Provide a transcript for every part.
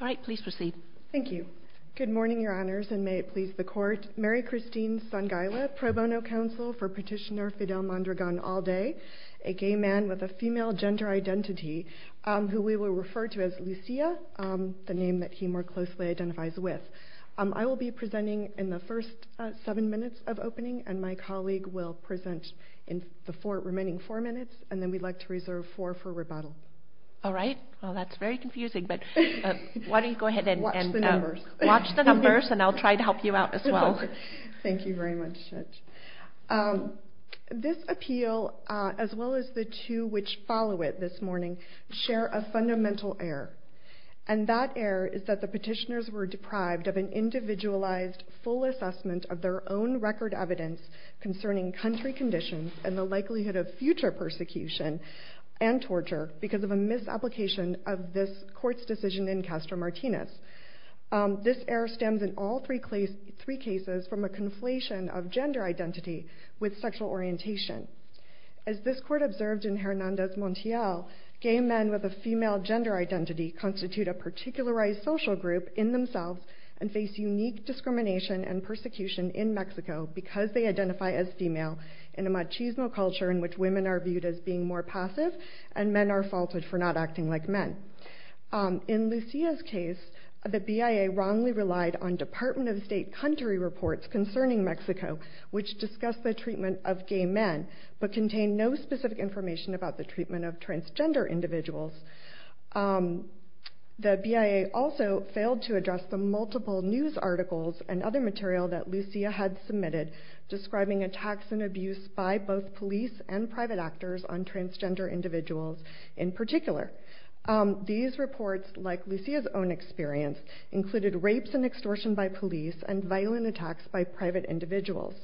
All right, please proceed. Thank you. Good morning, Your Honors, and may it please the Court. Mary Christine Sangaila, Pro Bono Counsel for Petitioner Fidel Mondragon-Alday, a gay man with a female gender identity, who we will refer to as Lucia, the name that he more closely identifies with. I will be presenting in the first seven minutes of opening, and my colleague will present in the remaining four minutes, and then we'd like to reserve four for rebuttal. All right. Well, that's very confusing, but why don't you go ahead and watch the numbers, and I'll try to help you out as well. Thank you very much, Judge. This appeal, as well as the two which follow it this morning, share a fundamental error, and that error is that the petitioners were deprived of an individualized, full assessment of their own record evidence concerning country conditions and the likelihood of future persecution and torture because of a misapplication of this Court's decision in Castro-Martinez. This error stems in all three cases from a conflation of gender identity with sexual orientation. As this Court observed in Hernandez-Montiel, gay men with a female gender identity constitute a particularized social group in themselves and face unique discrimination and persecution in Mexico because they identify as female in a machismo culture in which women are viewed as being more passive and men are faulted for not acting like men. In Lucia's case, the BIA wrongly relied on Department of State country reports concerning Mexico which discussed the treatment of gay men but contained no specific information about the treatment of transgender individuals. The BIA also failed to address the multiple news articles and other material that Lucia had submitted describing attacks and abuse by both police and private actors on transgender individuals in particular. These reports, like Lucia's own experience, included rapes and extortion by police and violent attacks by private individuals.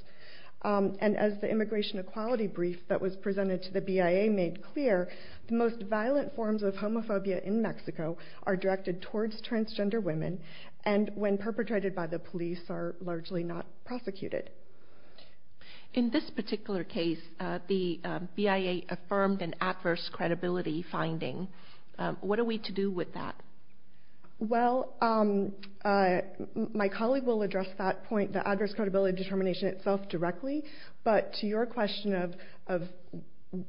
And as the immigration equality brief that was presented to the BIA made clear, the most violent forms of homophobia in Mexico are directed towards transgender women and when perpetrated by the police are largely not prosecuted. In this particular case, the BIA affirmed an adverse credibility finding. What are we to do with that? Well, my colleague will address that point, the adverse credibility determination itself directly, but to your question of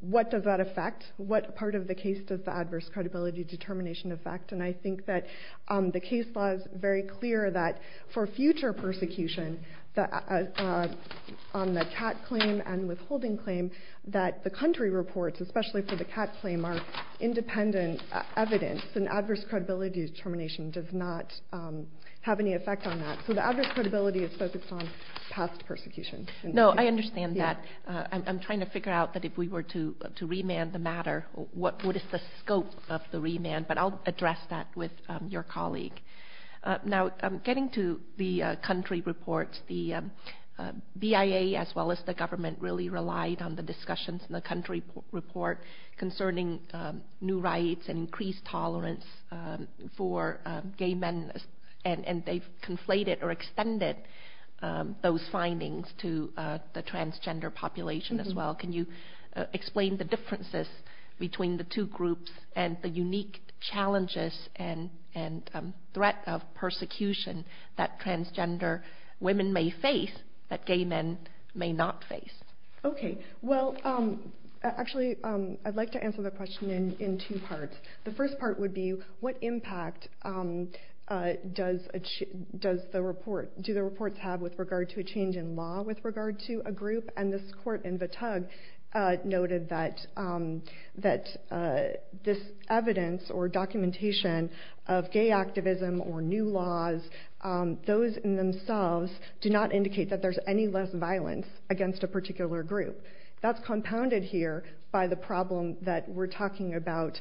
what does that affect, what part of the case does the adverse credibility determination affect, and I think that the case law is very clear that for future persecution on the CAT claim and withholding claim that the country reports, especially for the CAT claim, are independent evidence and adverse credibility determination does not have any effect on that. So the adverse credibility is focused on past persecution. No, I understand that. I'm trying to figure out that if we were to remand the matter, what is the scope of the remand? But I'll address that with your colleague. Now, getting to the country reports, the BIA as well as the government really relied on the discussions in the country report concerning new rights and increased tolerance for gay men, and they've conflated or extended those findings to the transgender population as well. Can you explain the differences between the two groups and the unique challenges and threat of persecution that transgender women may face that gay men may not face? Okay. Well, actually, I'd like to answer the question in two parts. The first part would be what impact do the reports have with regard to a change in law with regard to a group, and this court in the tug noted that this evidence or documentation of gay activism or new laws, those in themselves do not indicate that there's any less violence against a particular group. That's compounded here by the problem that we're talking about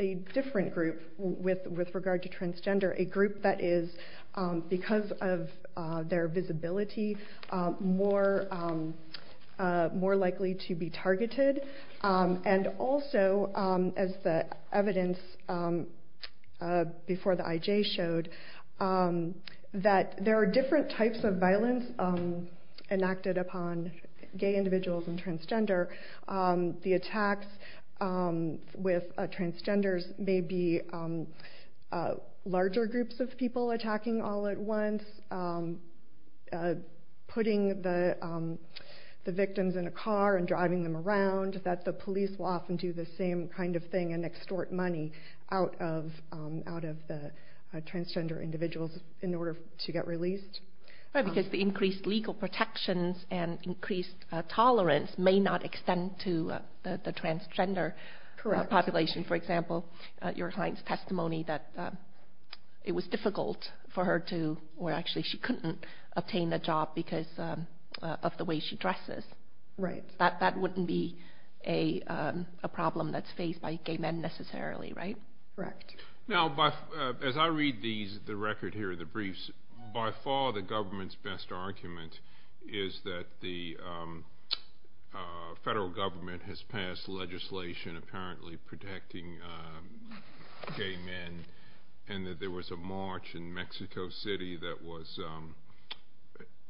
a different group with regard to transgender, a group that is, because of their visibility, more likely to be targeted, and also, as the evidence before the IJ showed, that there are different types of violence enacted upon gay individuals and transgender. The attacks with transgenders may be larger groups of people attacking all at once, putting the victims in a car and driving them around, that the police will often do the same kind of thing and extort money out of the transgender individuals in order to get released. Right, because the increased legal protections and increased tolerance may not extend to the transgender population. Correct. For example, your client's testimony that it was difficult for her to, or actually she couldn't obtain a job because of the way she dresses. Right. That wouldn't be a problem that's faced by gay men necessarily, right? Correct. Now, as I read the record here, the briefs, by far the government's best argument is that the federal government has passed legislation apparently protecting gay men, and that there was a march in Mexico City that was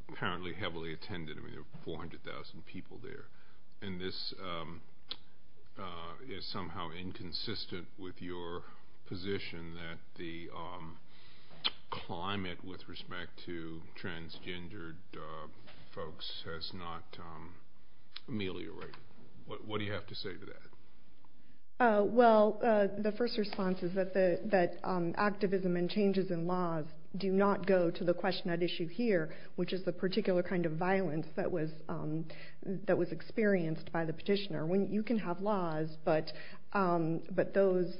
apparently heavily attended. There were 400,000 people there. And this is somehow inconsistent with your position that the climate with respect to transgender folks has not ameliorated. What do you have to say to that? Well, the first response is that activism and changes in laws do not go to the question at issue here, which is the particular kind of violence that was experienced by the petitioner. You can have laws, but those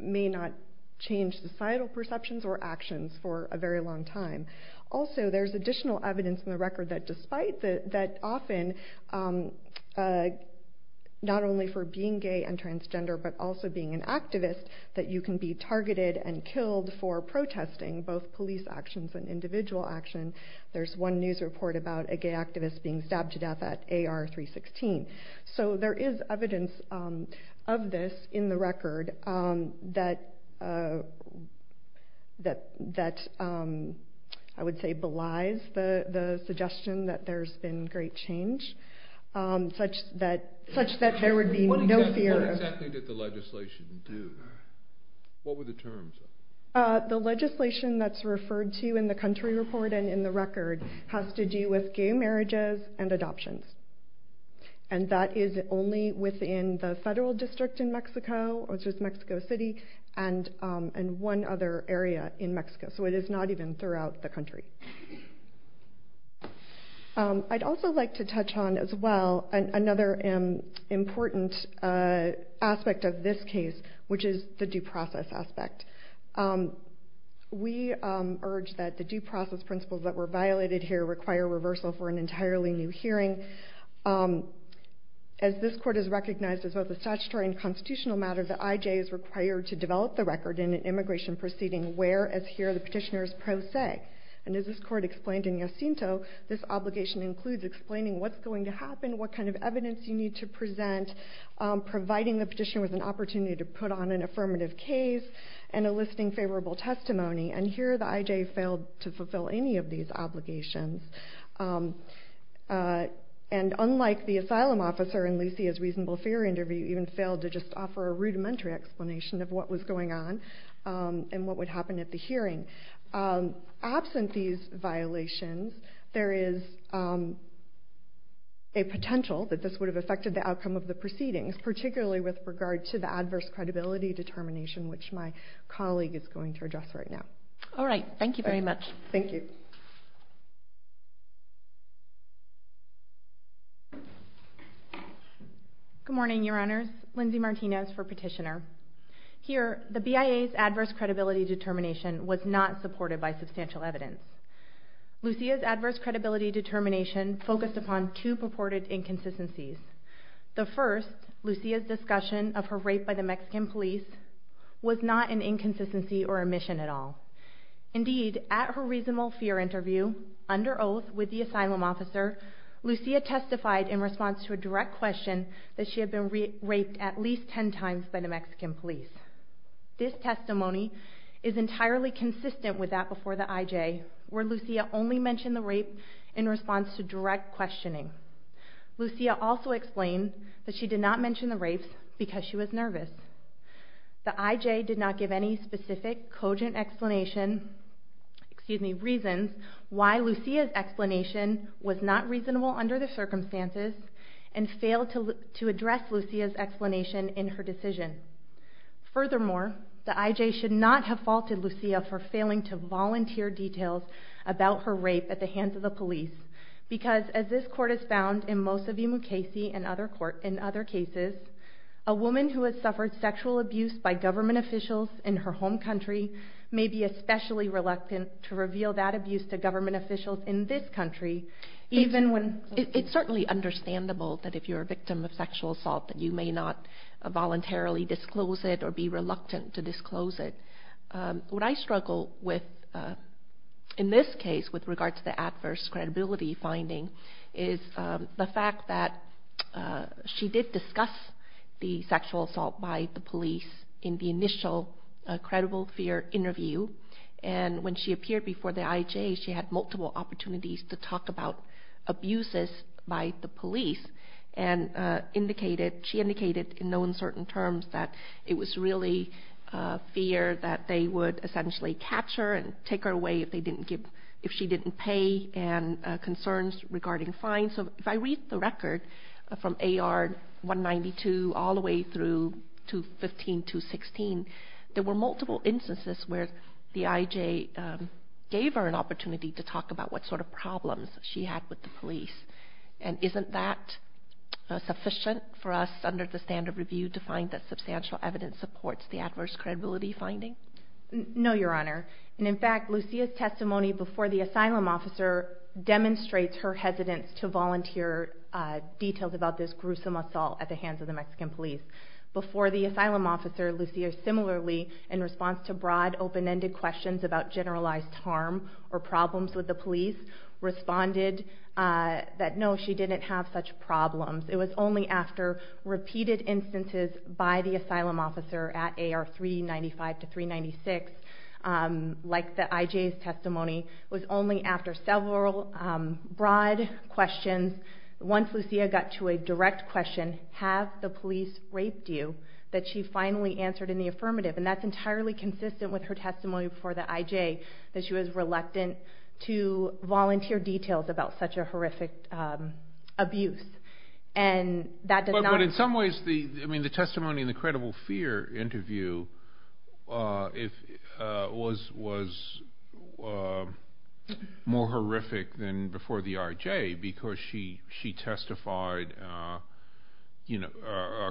may not change societal perceptions or actions for a very long time. Also, there's additional evidence in the record that often, not only for being gay and transgender, but also being an activist, that you can be targeted and killed for protesting both police actions and individual action. There's one news report about a gay activist being stabbed to death at AR-316. So there is evidence of this in the record that I would say belies the suggestion that there's been great change, such that there would be no fear. What exactly did the legislation do? What were the terms of it? The legislation that's referred to in the country report and in the record has to do with gay marriages and adoptions. And that is only within the federal district in Mexico, which is Mexico City, and one other area in Mexico. So it is not even throughout the country. I'd also like to touch on, as well, another important aspect of this case, which is the due process aspect. We urge that the due process principles that were violated here require reversal for an entirely new hearing. As this court has recognized as both a statutory and constitutional matter, the IJ is required to develop the record in an immigration proceeding where, as here, the petitioners pro se. And as this court explained in Jacinto, this obligation includes explaining what's going to happen, what kind of evidence you need to present, providing the petitioner with an opportunity to put on an affirmative case, and enlisting favorable testimony. And here the IJ failed to fulfill any of these obligations. And unlike the asylum officer in Lucy's reasonable fear interview, who even failed to just offer a rudimentary explanation of what was going on and what would happen at the hearing, absent these violations, there is a potential that this would have affected the outcome of the proceedings, particularly with regard to the adverse credibility determination, which my colleague is going to address right now. All right. Thank you very much. Thank you. Good morning, Your Honors. Lindsay Martinez for Petitioner. Here, the BIA's adverse credibility determination was not supported by substantial evidence. Lucia's adverse credibility determination focused upon two purported inconsistencies. The first, Lucia's discussion of her rape by the Mexican police, was not an inconsistency or omission at all. Indeed, at her reasonable fear interview, under oath with the asylum officer, Lucia testified in response to a direct question that she had been raped at least 10 times by the Mexican police. This testimony is entirely consistent with that before the IJ, where Lucia only mentioned the rape in response to direct questioning. Lucia also explained that she did not mention the rapes because she was nervous. The IJ did not give any specific, cogent explanation, excuse me, reasons why Lucia's explanation was not reasonable under the circumstances and failed to address Lucia's explanation in her decision. Furthermore, the IJ should not have faulted Lucia for failing to volunteer details about her rape at the hands of the police because, as this court has found in most of the Mukasey and other cases, a woman who has suffered sexual abuse by government officials in her home country may be especially reluctant to reveal that abuse to government officials in this country, even when... It's certainly understandable that if you're a victim of sexual assault that you may not voluntarily disclose it or be reluctant to disclose it. What I struggle with in this case with regard to the adverse credibility finding is the fact that she did discuss the sexual assault by the police in the initial credible fear interview and when she appeared before the IJ she had multiple opportunities to talk about abuses by the police and she indicated in no uncertain terms that it was really fear that they would essentially capture and take her away if she didn't pay and concerns regarding fines. So if I read the record from AR 192 all the way through to 15216, there were multiple instances where the IJ gave her an opportunity to talk about what sort of problems she had with the police and isn't that sufficient for us under the standard review to find that substantial evidence supports the adverse credibility finding? No, Your Honor. In fact, Lucia's testimony before the asylum officer demonstrates her hesitance to volunteer details about this gruesome assault at the hands of the Mexican police. Before the asylum officer, Lucia similarly, in response to broad open-ended questions about generalized harm or problems with the police, responded that no, she didn't have such problems. It was only after repeated instances by the asylum officer at AR 395 to 396, like the IJ's testimony, it was only after several broad questions, once Lucia got to a direct question, have the police raped you, that she finally answered in the affirmative and that's entirely consistent with her testimony before the IJ, that she was reluctant to volunteer details about such a horrific abuse. But in some ways, the testimony in the credible fear interview was more horrific than before the IJ because she testified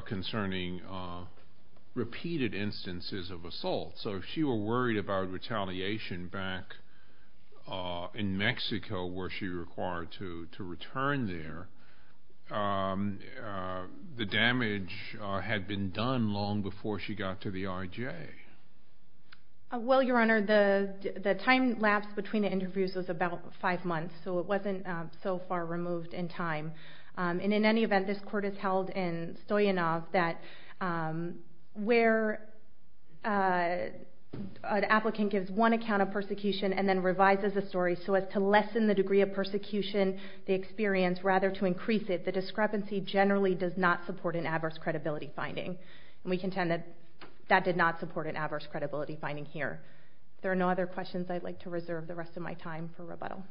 concerning repeated instances of assault. So if she were worried about retaliation back in Mexico where she required to return there, the damage had been done long before she got to the IJ. Well, Your Honor, the time lapse between the interviews was about five months, so it wasn't so far removed in time. And in any event, this court has held in Stoyanov that where an applicant gives one account of persecution and then revises the story so as to lessen the degree of persecution they experience rather to increase it, the discrepancy generally does not support an adverse credibility finding. We contend that that did not support an adverse credibility finding here. There are no other questions I'd like to reserve the rest of my time for rebuttal.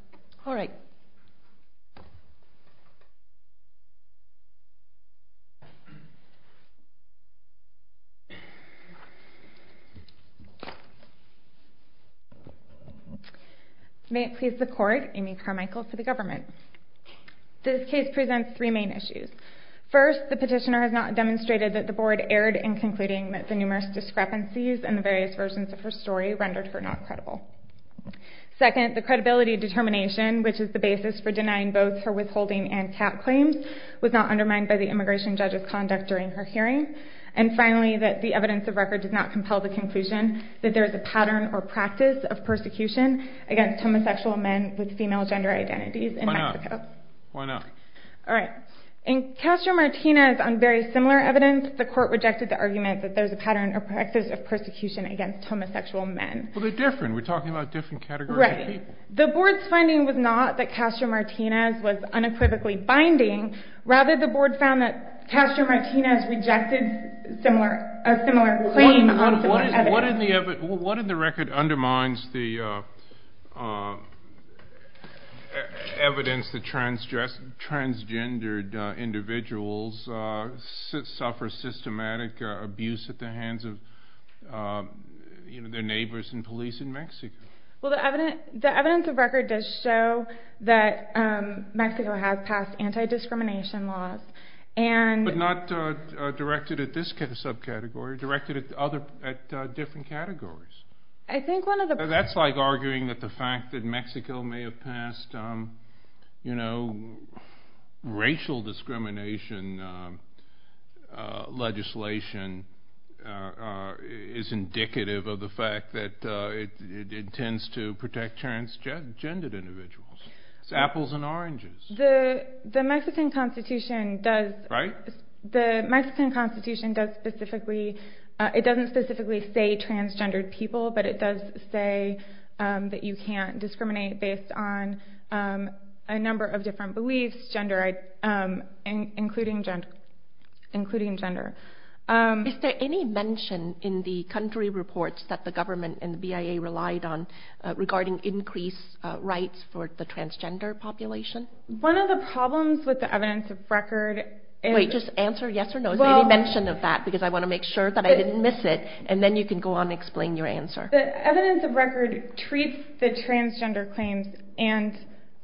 All right. May it please the Court, Amy Carmichael for the Government. This case presents three main issues. First, the petitioner has not demonstrated that the Board erred in concluding that the numerous discrepancies in the various versions of her story rendered her not credible. Second, the credibility determination, which is the basis for denying both her withholding and cap claims, was not undermined by the immigration judge's conduct during her hearing. And finally, that the evidence of record does not compel the conclusion that there is a pattern or practice of persecution against homosexual men with female gender identities in Mexico. Why not? All right. In Castro-Martinez, on very similar evidence, the Court rejected the argument that there's a pattern or practice of persecution against homosexual men. Well, they're different. We're talking about different categories of people. Right. The Board's finding was not that Castro-Martinez was unequivocally binding. What in the record undermines the evidence that transgendered individuals suffer systematic abuse at the hands of their neighbors and police in Mexico? Well, the evidence of record does show that Mexico has passed anti-discrimination laws. But not directed at this subcategory. Directed at different categories. That's like arguing that the fact that Mexico may have passed racial discrimination legislation is indicative of the fact that it intends to protect transgendered individuals. It's apples and oranges. The Mexican Constitution doesn't specifically say transgendered people, but it does say that you can't discriminate based on a number of different beliefs, including gender. Is there any mention in the country reports that the government and the BIA relied on regarding increased rights for the transgender population? One of the problems with the evidence of record is... Wait, just answer yes or no. Is there any mention of that? Because I want to make sure that I didn't miss it. And then you can go on and explain your answer. The evidence of record treats the transgender claims and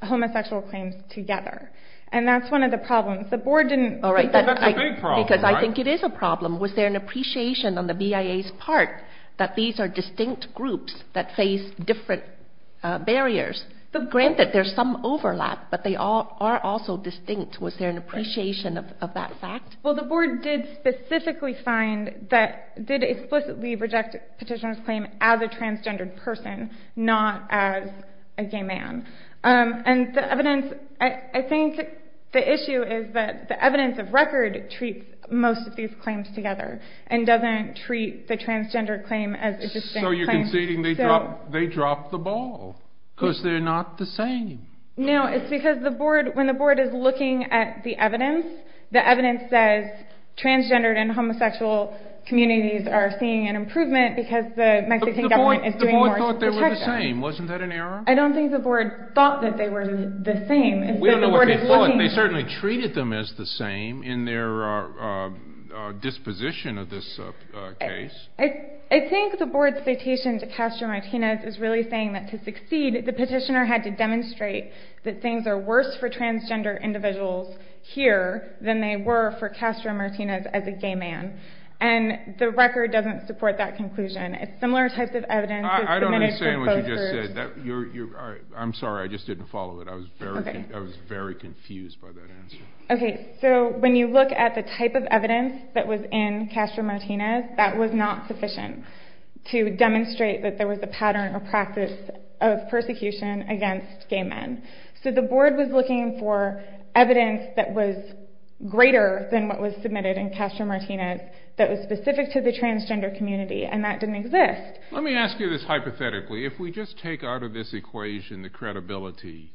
homosexual claims together. And that's one of the problems. The Board didn't... Because that's a big problem, right? Because I think it is a problem. Was there an appreciation on the BIA's part that these are distinct groups that face different barriers? Granted, there's some overlap, but they are also distinct. Was there an appreciation of that fact? Well, the Board did specifically find that... Did explicitly reject petitioner's claim as a transgendered person, not as a gay man. And the evidence... I think the issue is that the evidence of record treats most of these claims together and doesn't treat the transgendered claim as a distinct claim. So you're conceding they dropped the ball because they're not the same. No, it's because when the Board is looking at the evidence, the evidence says transgendered and homosexual communities are seeing an improvement because the Mexican government is doing more to protect them. But the Board thought they were the same. Wasn't that an error? I don't think the Board thought that they were the same. We don't know what they thought. They certainly treated them as the same in their disposition of this case. I think the Board's citation to Castro-Martinez is really saying that to succeed, the petitioner had to demonstrate that things are worse for transgender individuals here than they were for Castro-Martinez as a gay man. And the record doesn't support that conclusion. It's similar types of evidence. I don't understand what you just said. I'm sorry, I just didn't follow it. I was very confused by that answer. Okay, so when you look at the type of evidence that was in Castro-Martinez, that was not sufficient to demonstrate that there was a pattern or practice of persecution against gay men. So the Board was looking for evidence that was greater than what was submitted in Castro-Martinez that was specific to the transgender community, and that didn't exist. Let me ask you this hypothetically. If we just take out of this equation the credibility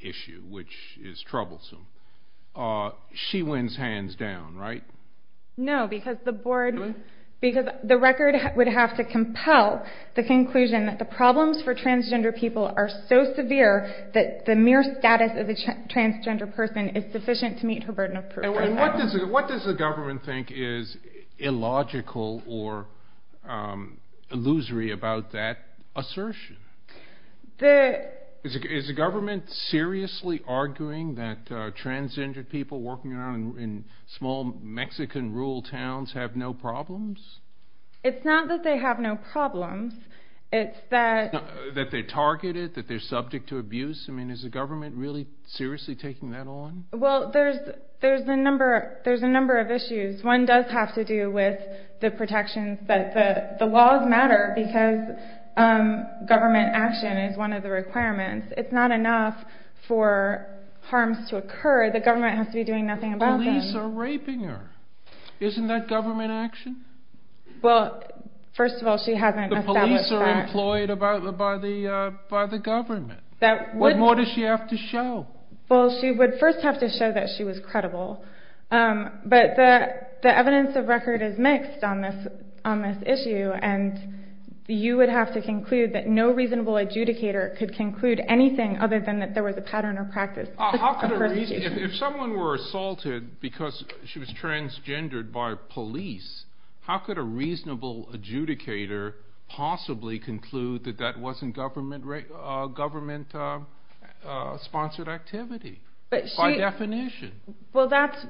issue, which is troublesome, she wins hands down, right? No, because the record would have to compel the conclusion that the problems for transgender people are so severe that the mere status of a transgender person is sufficient to meet her burden of proof. And what does the government think is illogical or illusory about that assertion? Is the government seriously arguing that transgender people working around in small Mexican rural towns have no problems? It's not that they have no problems, it's that... That they're targeted, that they're subject to abuse? I mean, is the government really seriously taking that on? Well, there's a number of issues. One does have to do with the protections that... The laws matter because government action is one of the requirements. It's not enough for harms to occur, the government has to be doing nothing about them. The police are raping her. Isn't that government action? Well, first of all, she hasn't established that. The police are employed by the government. What more does she have to show? Well, she would first have to show that she was credible. But the evidence of record is mixed on this issue, and you would have to conclude that no reasonable adjudicator could conclude anything other than that there was a pattern or practice. If someone were assaulted because she was transgendered by police, how could a reasonable adjudicator possibly conclude that that wasn't government-sponsored activity? By definition. Well, that's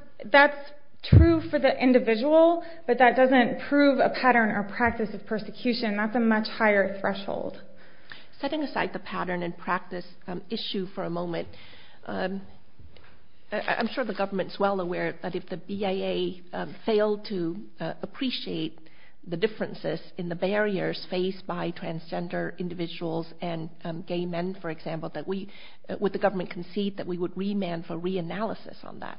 true for the individual, but that doesn't prove a pattern or practice of persecution. That's a much higher threshold. Setting aside the pattern and practice issue for a moment, I'm sure the government is well aware that if the BIA failed to appreciate the differences in the barriers faced by transgender individuals and gay men, for example, would the government concede that we would remand for reanalysis on that?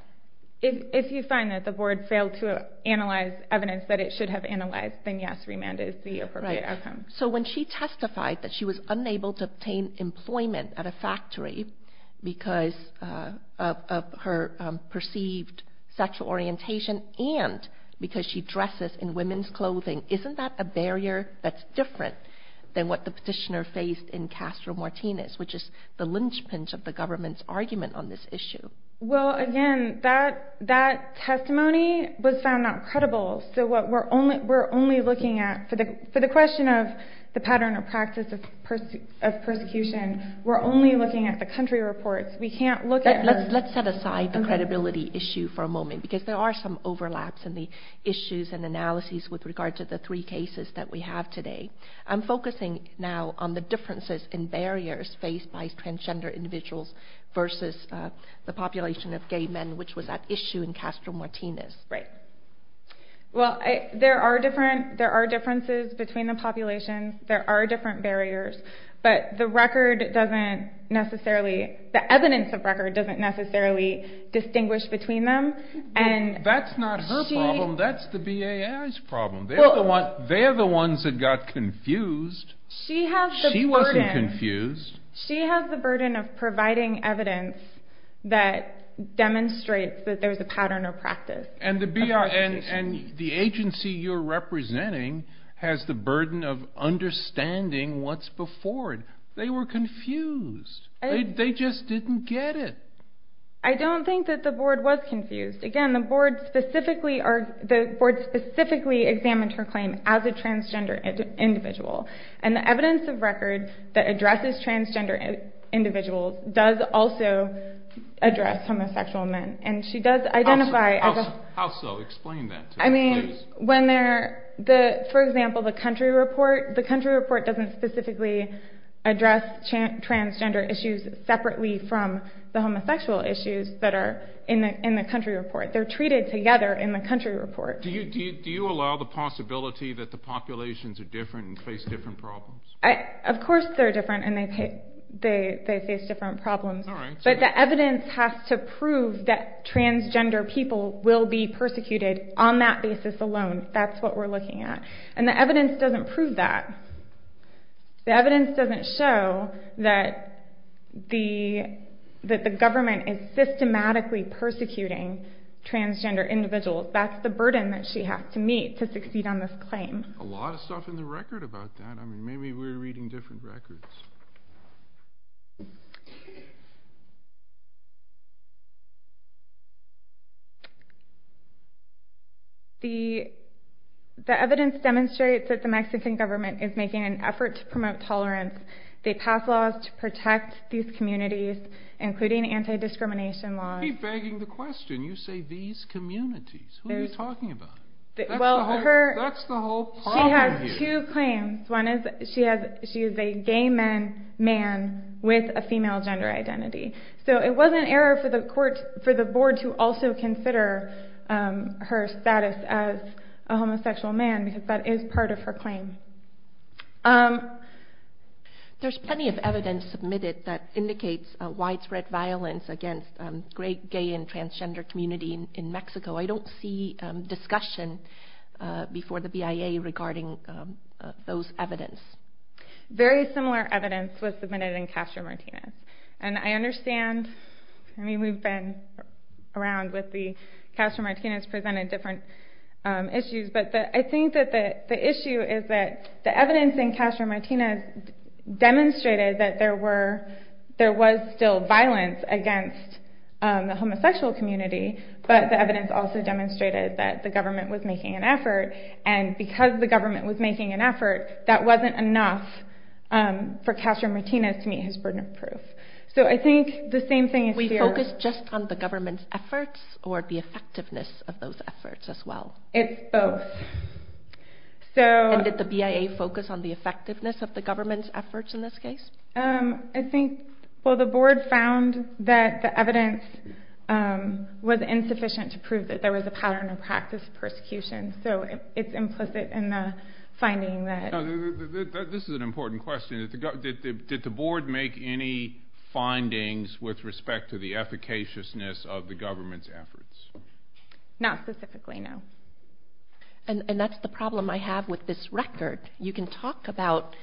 If you find that the board failed to analyze evidence that it should have analyzed, then yes, remand is the appropriate outcome. So when she testified that she was unable to obtain employment at a factory because of her perceived sexual orientation and because she dresses in women's clothing, isn't that a barrier that's different than what the petitioner faced in Castro-Martinez, which is the linchpin of the government's argument on this issue? Well, again, that testimony was found not credible. So what we're only looking at for the question of the pattern or practice of persecution, we're only looking at the country reports. We can't look at her. Let's set aside the credibility issue for a moment, because there are some overlaps in the issues and analyses with regard to the three cases that we have today. I'm focusing now on the differences in barriers faced by transgender individuals versus the population of gay men, which was at issue in Castro-Martinez. Right. Well, there are differences between the populations. There are different barriers. But the evidence of record doesn't necessarily distinguish between them. That's not her problem. That's the BAI's problem. They're the ones that got confused. She wasn't confused. She has the burden of providing evidence that demonstrates that there's a pattern or practice. And the agency you're representing has the burden of understanding what's before it. They were confused. They just didn't get it. I don't think that the board was confused. Again, the board specifically examined her claim as a transgender individual. And the evidence of record that addresses transgender individuals does also address homosexual men. And she does identify as a- How so? Explain that to us, please. For example, the country report doesn't specifically address transgender issues separately from the homosexual issues that are in the country report. They're treated together in the country report. Do you allow the possibility that the populations are different and face different problems? Of course they're different and they face different problems. All right. But the evidence has to prove that transgender people will be persecuted on that basis alone. That's what we're looking at. And the evidence doesn't prove that. The evidence doesn't show that the government is systematically persecuting transgender individuals. That's the burden that she has to meet to succeed on this claim. A lot of stuff in the record about that. Maybe we're reading different records. The evidence demonstrates that the Mexican government is making an effort to promote tolerance. They pass laws to protect these communities, including anti-discrimination laws. You keep begging the question. You say these communities. Who are you talking about? That's the whole problem here. She has two claims. One is she is a gay man with a female gender identity. So it was an error for the board to also consider her status as a homosexual man because that is part of her claim. There's plenty of evidence submitted that indicates widespread violence against the gay and transgender community in Mexico. I don't see discussion before the BIA regarding those evidence. Very similar evidence was submitted in Castro-Martinez. I understand. We've been around with the Castro-Martinez presented different issues. But I think that the issue is that the evidence in Castro-Martinez demonstrated that there was still violence against the homosexual community. But the evidence also demonstrated that the government was making an effort. And because the government was making an effort, that wasn't enough for Castro-Martinez to meet his burden of proof. So I think the same thing is here. We focus just on the government's efforts or the effectiveness of those efforts as well? It's both. And did the BIA focus on the effectiveness of the government's efforts in this case? I think the board found that the evidence was insufficient to prove that there was a pattern of practice of persecution. So it's implicit in the finding. This is an important question. Did the board make any findings with respect to the efficaciousness of the government's efforts? Not specifically, no. And that's the problem I have with this record. You can talk about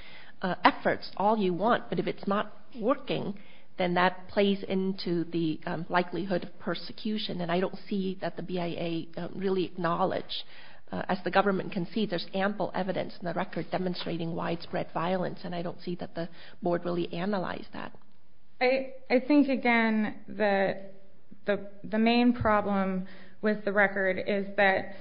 efforts all you want, but if it's not working, then that plays into the likelihood of persecution. And I don't see that the BIA really acknowledged. As the government can see, there's ample evidence in the record demonstrating widespread violence. And I don't see that the board really analyzed that. I think, again, that the main problem with the record is that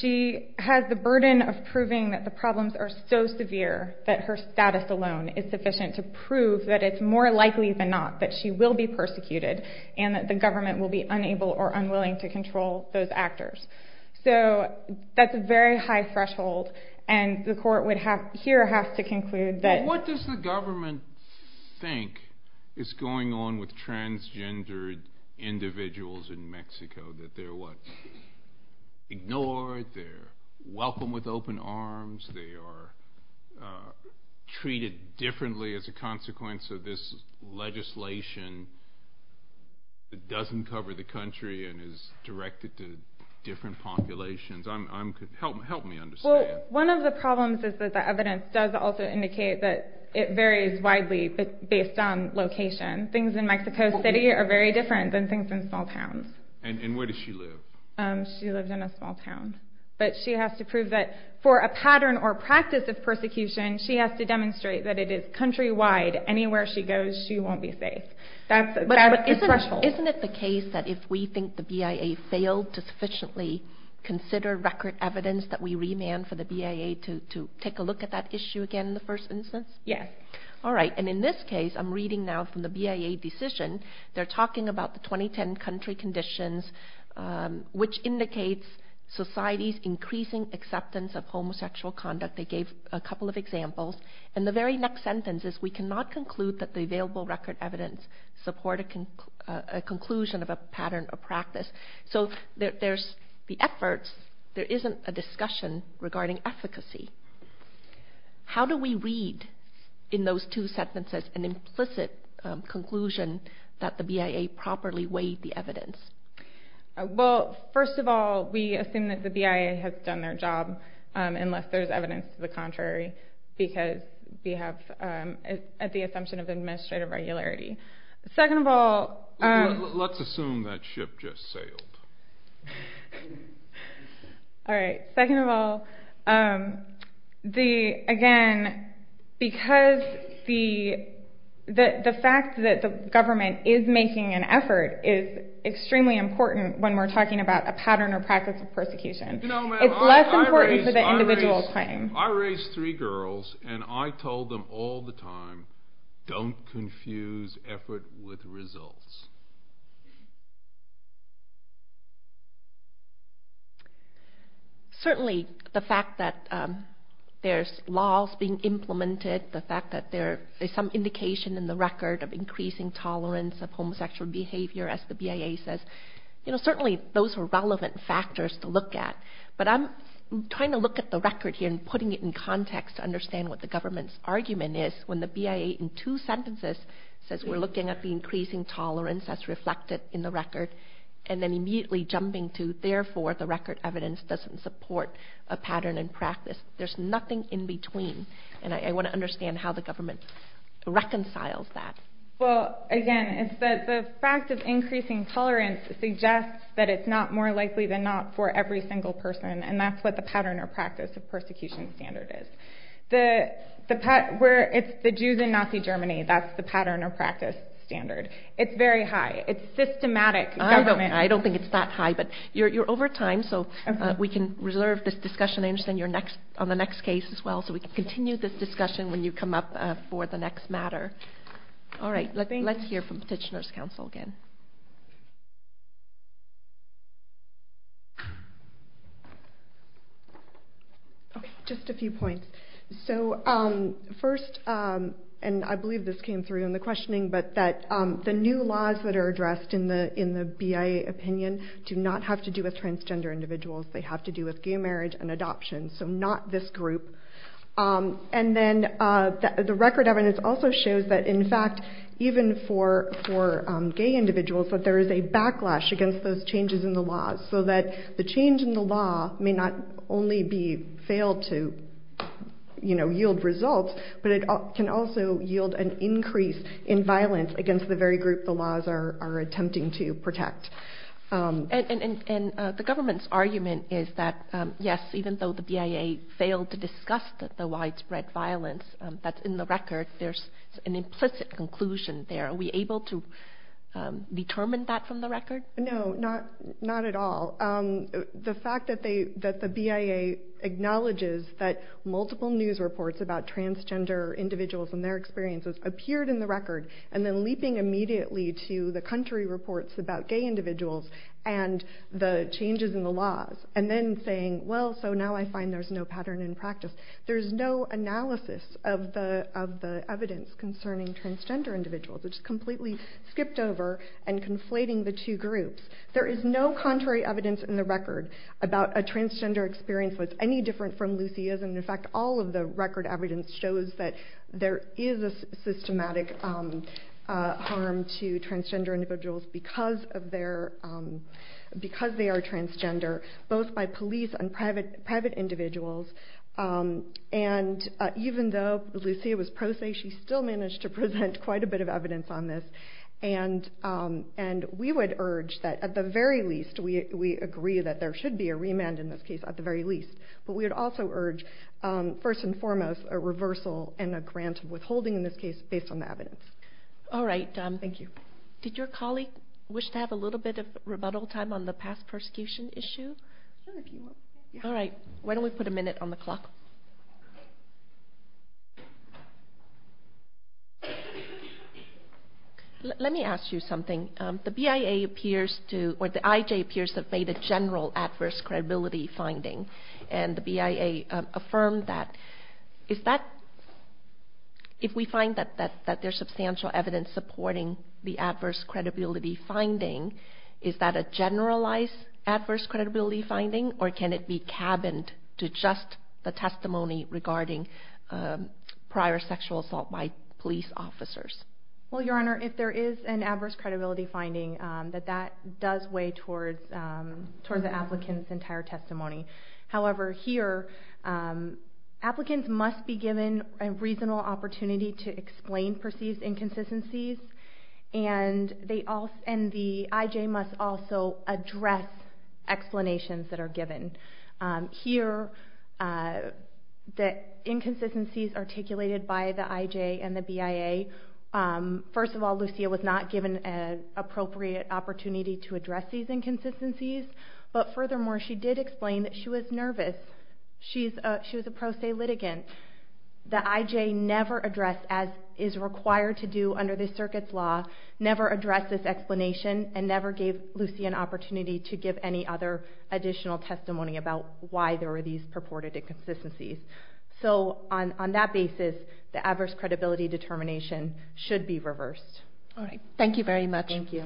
she has the burden of proving that the problems are so severe that her status alone is sufficient to prove that it's more likely than not that she will be persecuted and that the government will be unable or unwilling to control those actors. So that's a very high threshold, and the court would here have to conclude that... What does the government think is going on with transgendered individuals in Mexico? That they're, what, ignored, they're welcomed with open arms, they are treated differently as a consequence of this legislation that doesn't cover the country and is directed to different populations? Help me understand. One of the problems is that the evidence does also indicate that it varies widely based on location. Things in Mexico City are very different than things in small towns. And where does she live? She lives in a small town. But she has to prove that for a pattern or practice of persecution, she has to demonstrate that it is countrywide. Anywhere she goes, she won't be safe. But isn't it the case that if we think the BIA failed to sufficiently consider record evidence that we remand for the BIA to take a look at that issue again in the first instance? Yes. All right. And in this case, I'm reading now from the BIA decision. They're talking about the 2010 country conditions, which indicates society's increasing acceptance of homosexual conduct. They gave a couple of examples. And the very next sentence is, we cannot conclude that the available record evidence support a conclusion of a pattern or practice. So there's the efforts. There isn't a discussion regarding efficacy. How do we read in those two sentences an implicit conclusion that the BIA properly weighed the evidence? Well, first of all, we assume that the BIA has done their job, unless there's evidence to the contrary, because we have the assumption of administrative regularity. Let's assume that ship just sailed. All right. Second of all, again, because the fact that the government is making an effort is extremely important when we're talking about a pattern or practice of persecution. It's less important for the individual claim. I raised three girls, and I told them all the time, don't confuse effort with results. Certainly, the fact that there's laws being implemented, the fact that there is some indication in the record of increasing tolerance of homosexual behavior, as the BIA says, certainly those are relevant factors to look at. But I'm trying to look at the record here and putting it in context to understand what the government's argument is when the BIA in two sentences says we're looking at the increasing tolerance as reflected in the record and then immediately jumping to, therefore, the record evidence doesn't support a pattern and practice. There's nothing in between, and I want to understand how the government reconciles that. Well, again, the fact of increasing tolerance suggests that it's not more likely than not for every single person, and that's what the pattern or practice of persecution standard is. The Jews in Nazi Germany, that's the pattern or practice standard. It's very high. It's systematic government. I don't think it's that high, but you're over time, so we can reserve this discussion. I understand you're on the next case as well, so we can continue this discussion when you come up for the next matter. All right. Let's hear from Petitioner's Council again. Just a few points. So first, and I believe this came through in the questioning, but that the new laws that are addressed in the BIA opinion do not have to do with transgender individuals. They have to do with gay marriage and adoption, so not this group. And then the record evidence also shows that, in fact, even for gay individuals, that there is a backlash against those changes in the laws, so that the change in the law may not only fail to yield results, but it can also yield an increase in violence against the very group the laws are attempting to protect. And the government's argument is that, yes, even though the BIA failed to discuss the widespread violence that's in the record, there's an implicit conclusion there. Are we able to determine that from the record? No, not at all. The fact that the BIA acknowledges that multiple news reports about transgender individuals and their experiences appeared in the record, and then leaping immediately to the country reports about gay individuals and the changes in the laws, and then saying, well, so now I find there's no pattern in practice, there's no analysis of the evidence concerning transgender individuals. It's completely skipped over and conflating the two groups. There is no contrary evidence in the record about a transgender experience that's any different from Lucia's, and, in fact, all of the record evidence shows that there is a systematic harm to transgender individuals because they are transgender, both by police and private individuals. And even though Lucia was pro se, she still managed to present quite a bit of evidence on this. And we would urge that, at the very least, we agree that there should be a remand in this case, at the very least. But we would also urge, first and foremost, a reversal and a grant of withholding in this case based on the evidence. All right. Thank you. Did your colleague wish to have a little bit of rebuttal time on the past persecution issue? Sure, if you want. All right. Why don't we put a minute on the clock? Let me ask you something. The BIA appears to, or the IJ appears to have made a general adverse credibility finding, and the BIA affirmed that. If we find that there's substantial evidence supporting the adverse credibility finding, is that a generalized adverse credibility finding, or can it be cabined to just the testimony regarding prior sexual assault by police officers? Well, Your Honor, if there is an adverse credibility finding, that that does weigh towards the applicant's entire testimony. However, here applicants must be given a reasonable opportunity to explain perceived inconsistencies, and the IJ must also address explanations that are given. Here, the inconsistencies articulated by the IJ and the BIA, first of all, Lucia was not given an appropriate opportunity to address these inconsistencies, but furthermore, she did explain that she was nervous. She was a pro se litigant. The IJ never addressed, as is required to do under the circuit's law, never addressed this explanation, and never gave Lucia an opportunity to give any other additional testimony about why there were these purported inconsistencies. So, on that basis, the adverse credibility determination should be reversed. All right. Thank you very much. Thank you.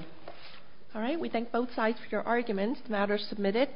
All right. We thank both sides for your arguments. The matter is submitted.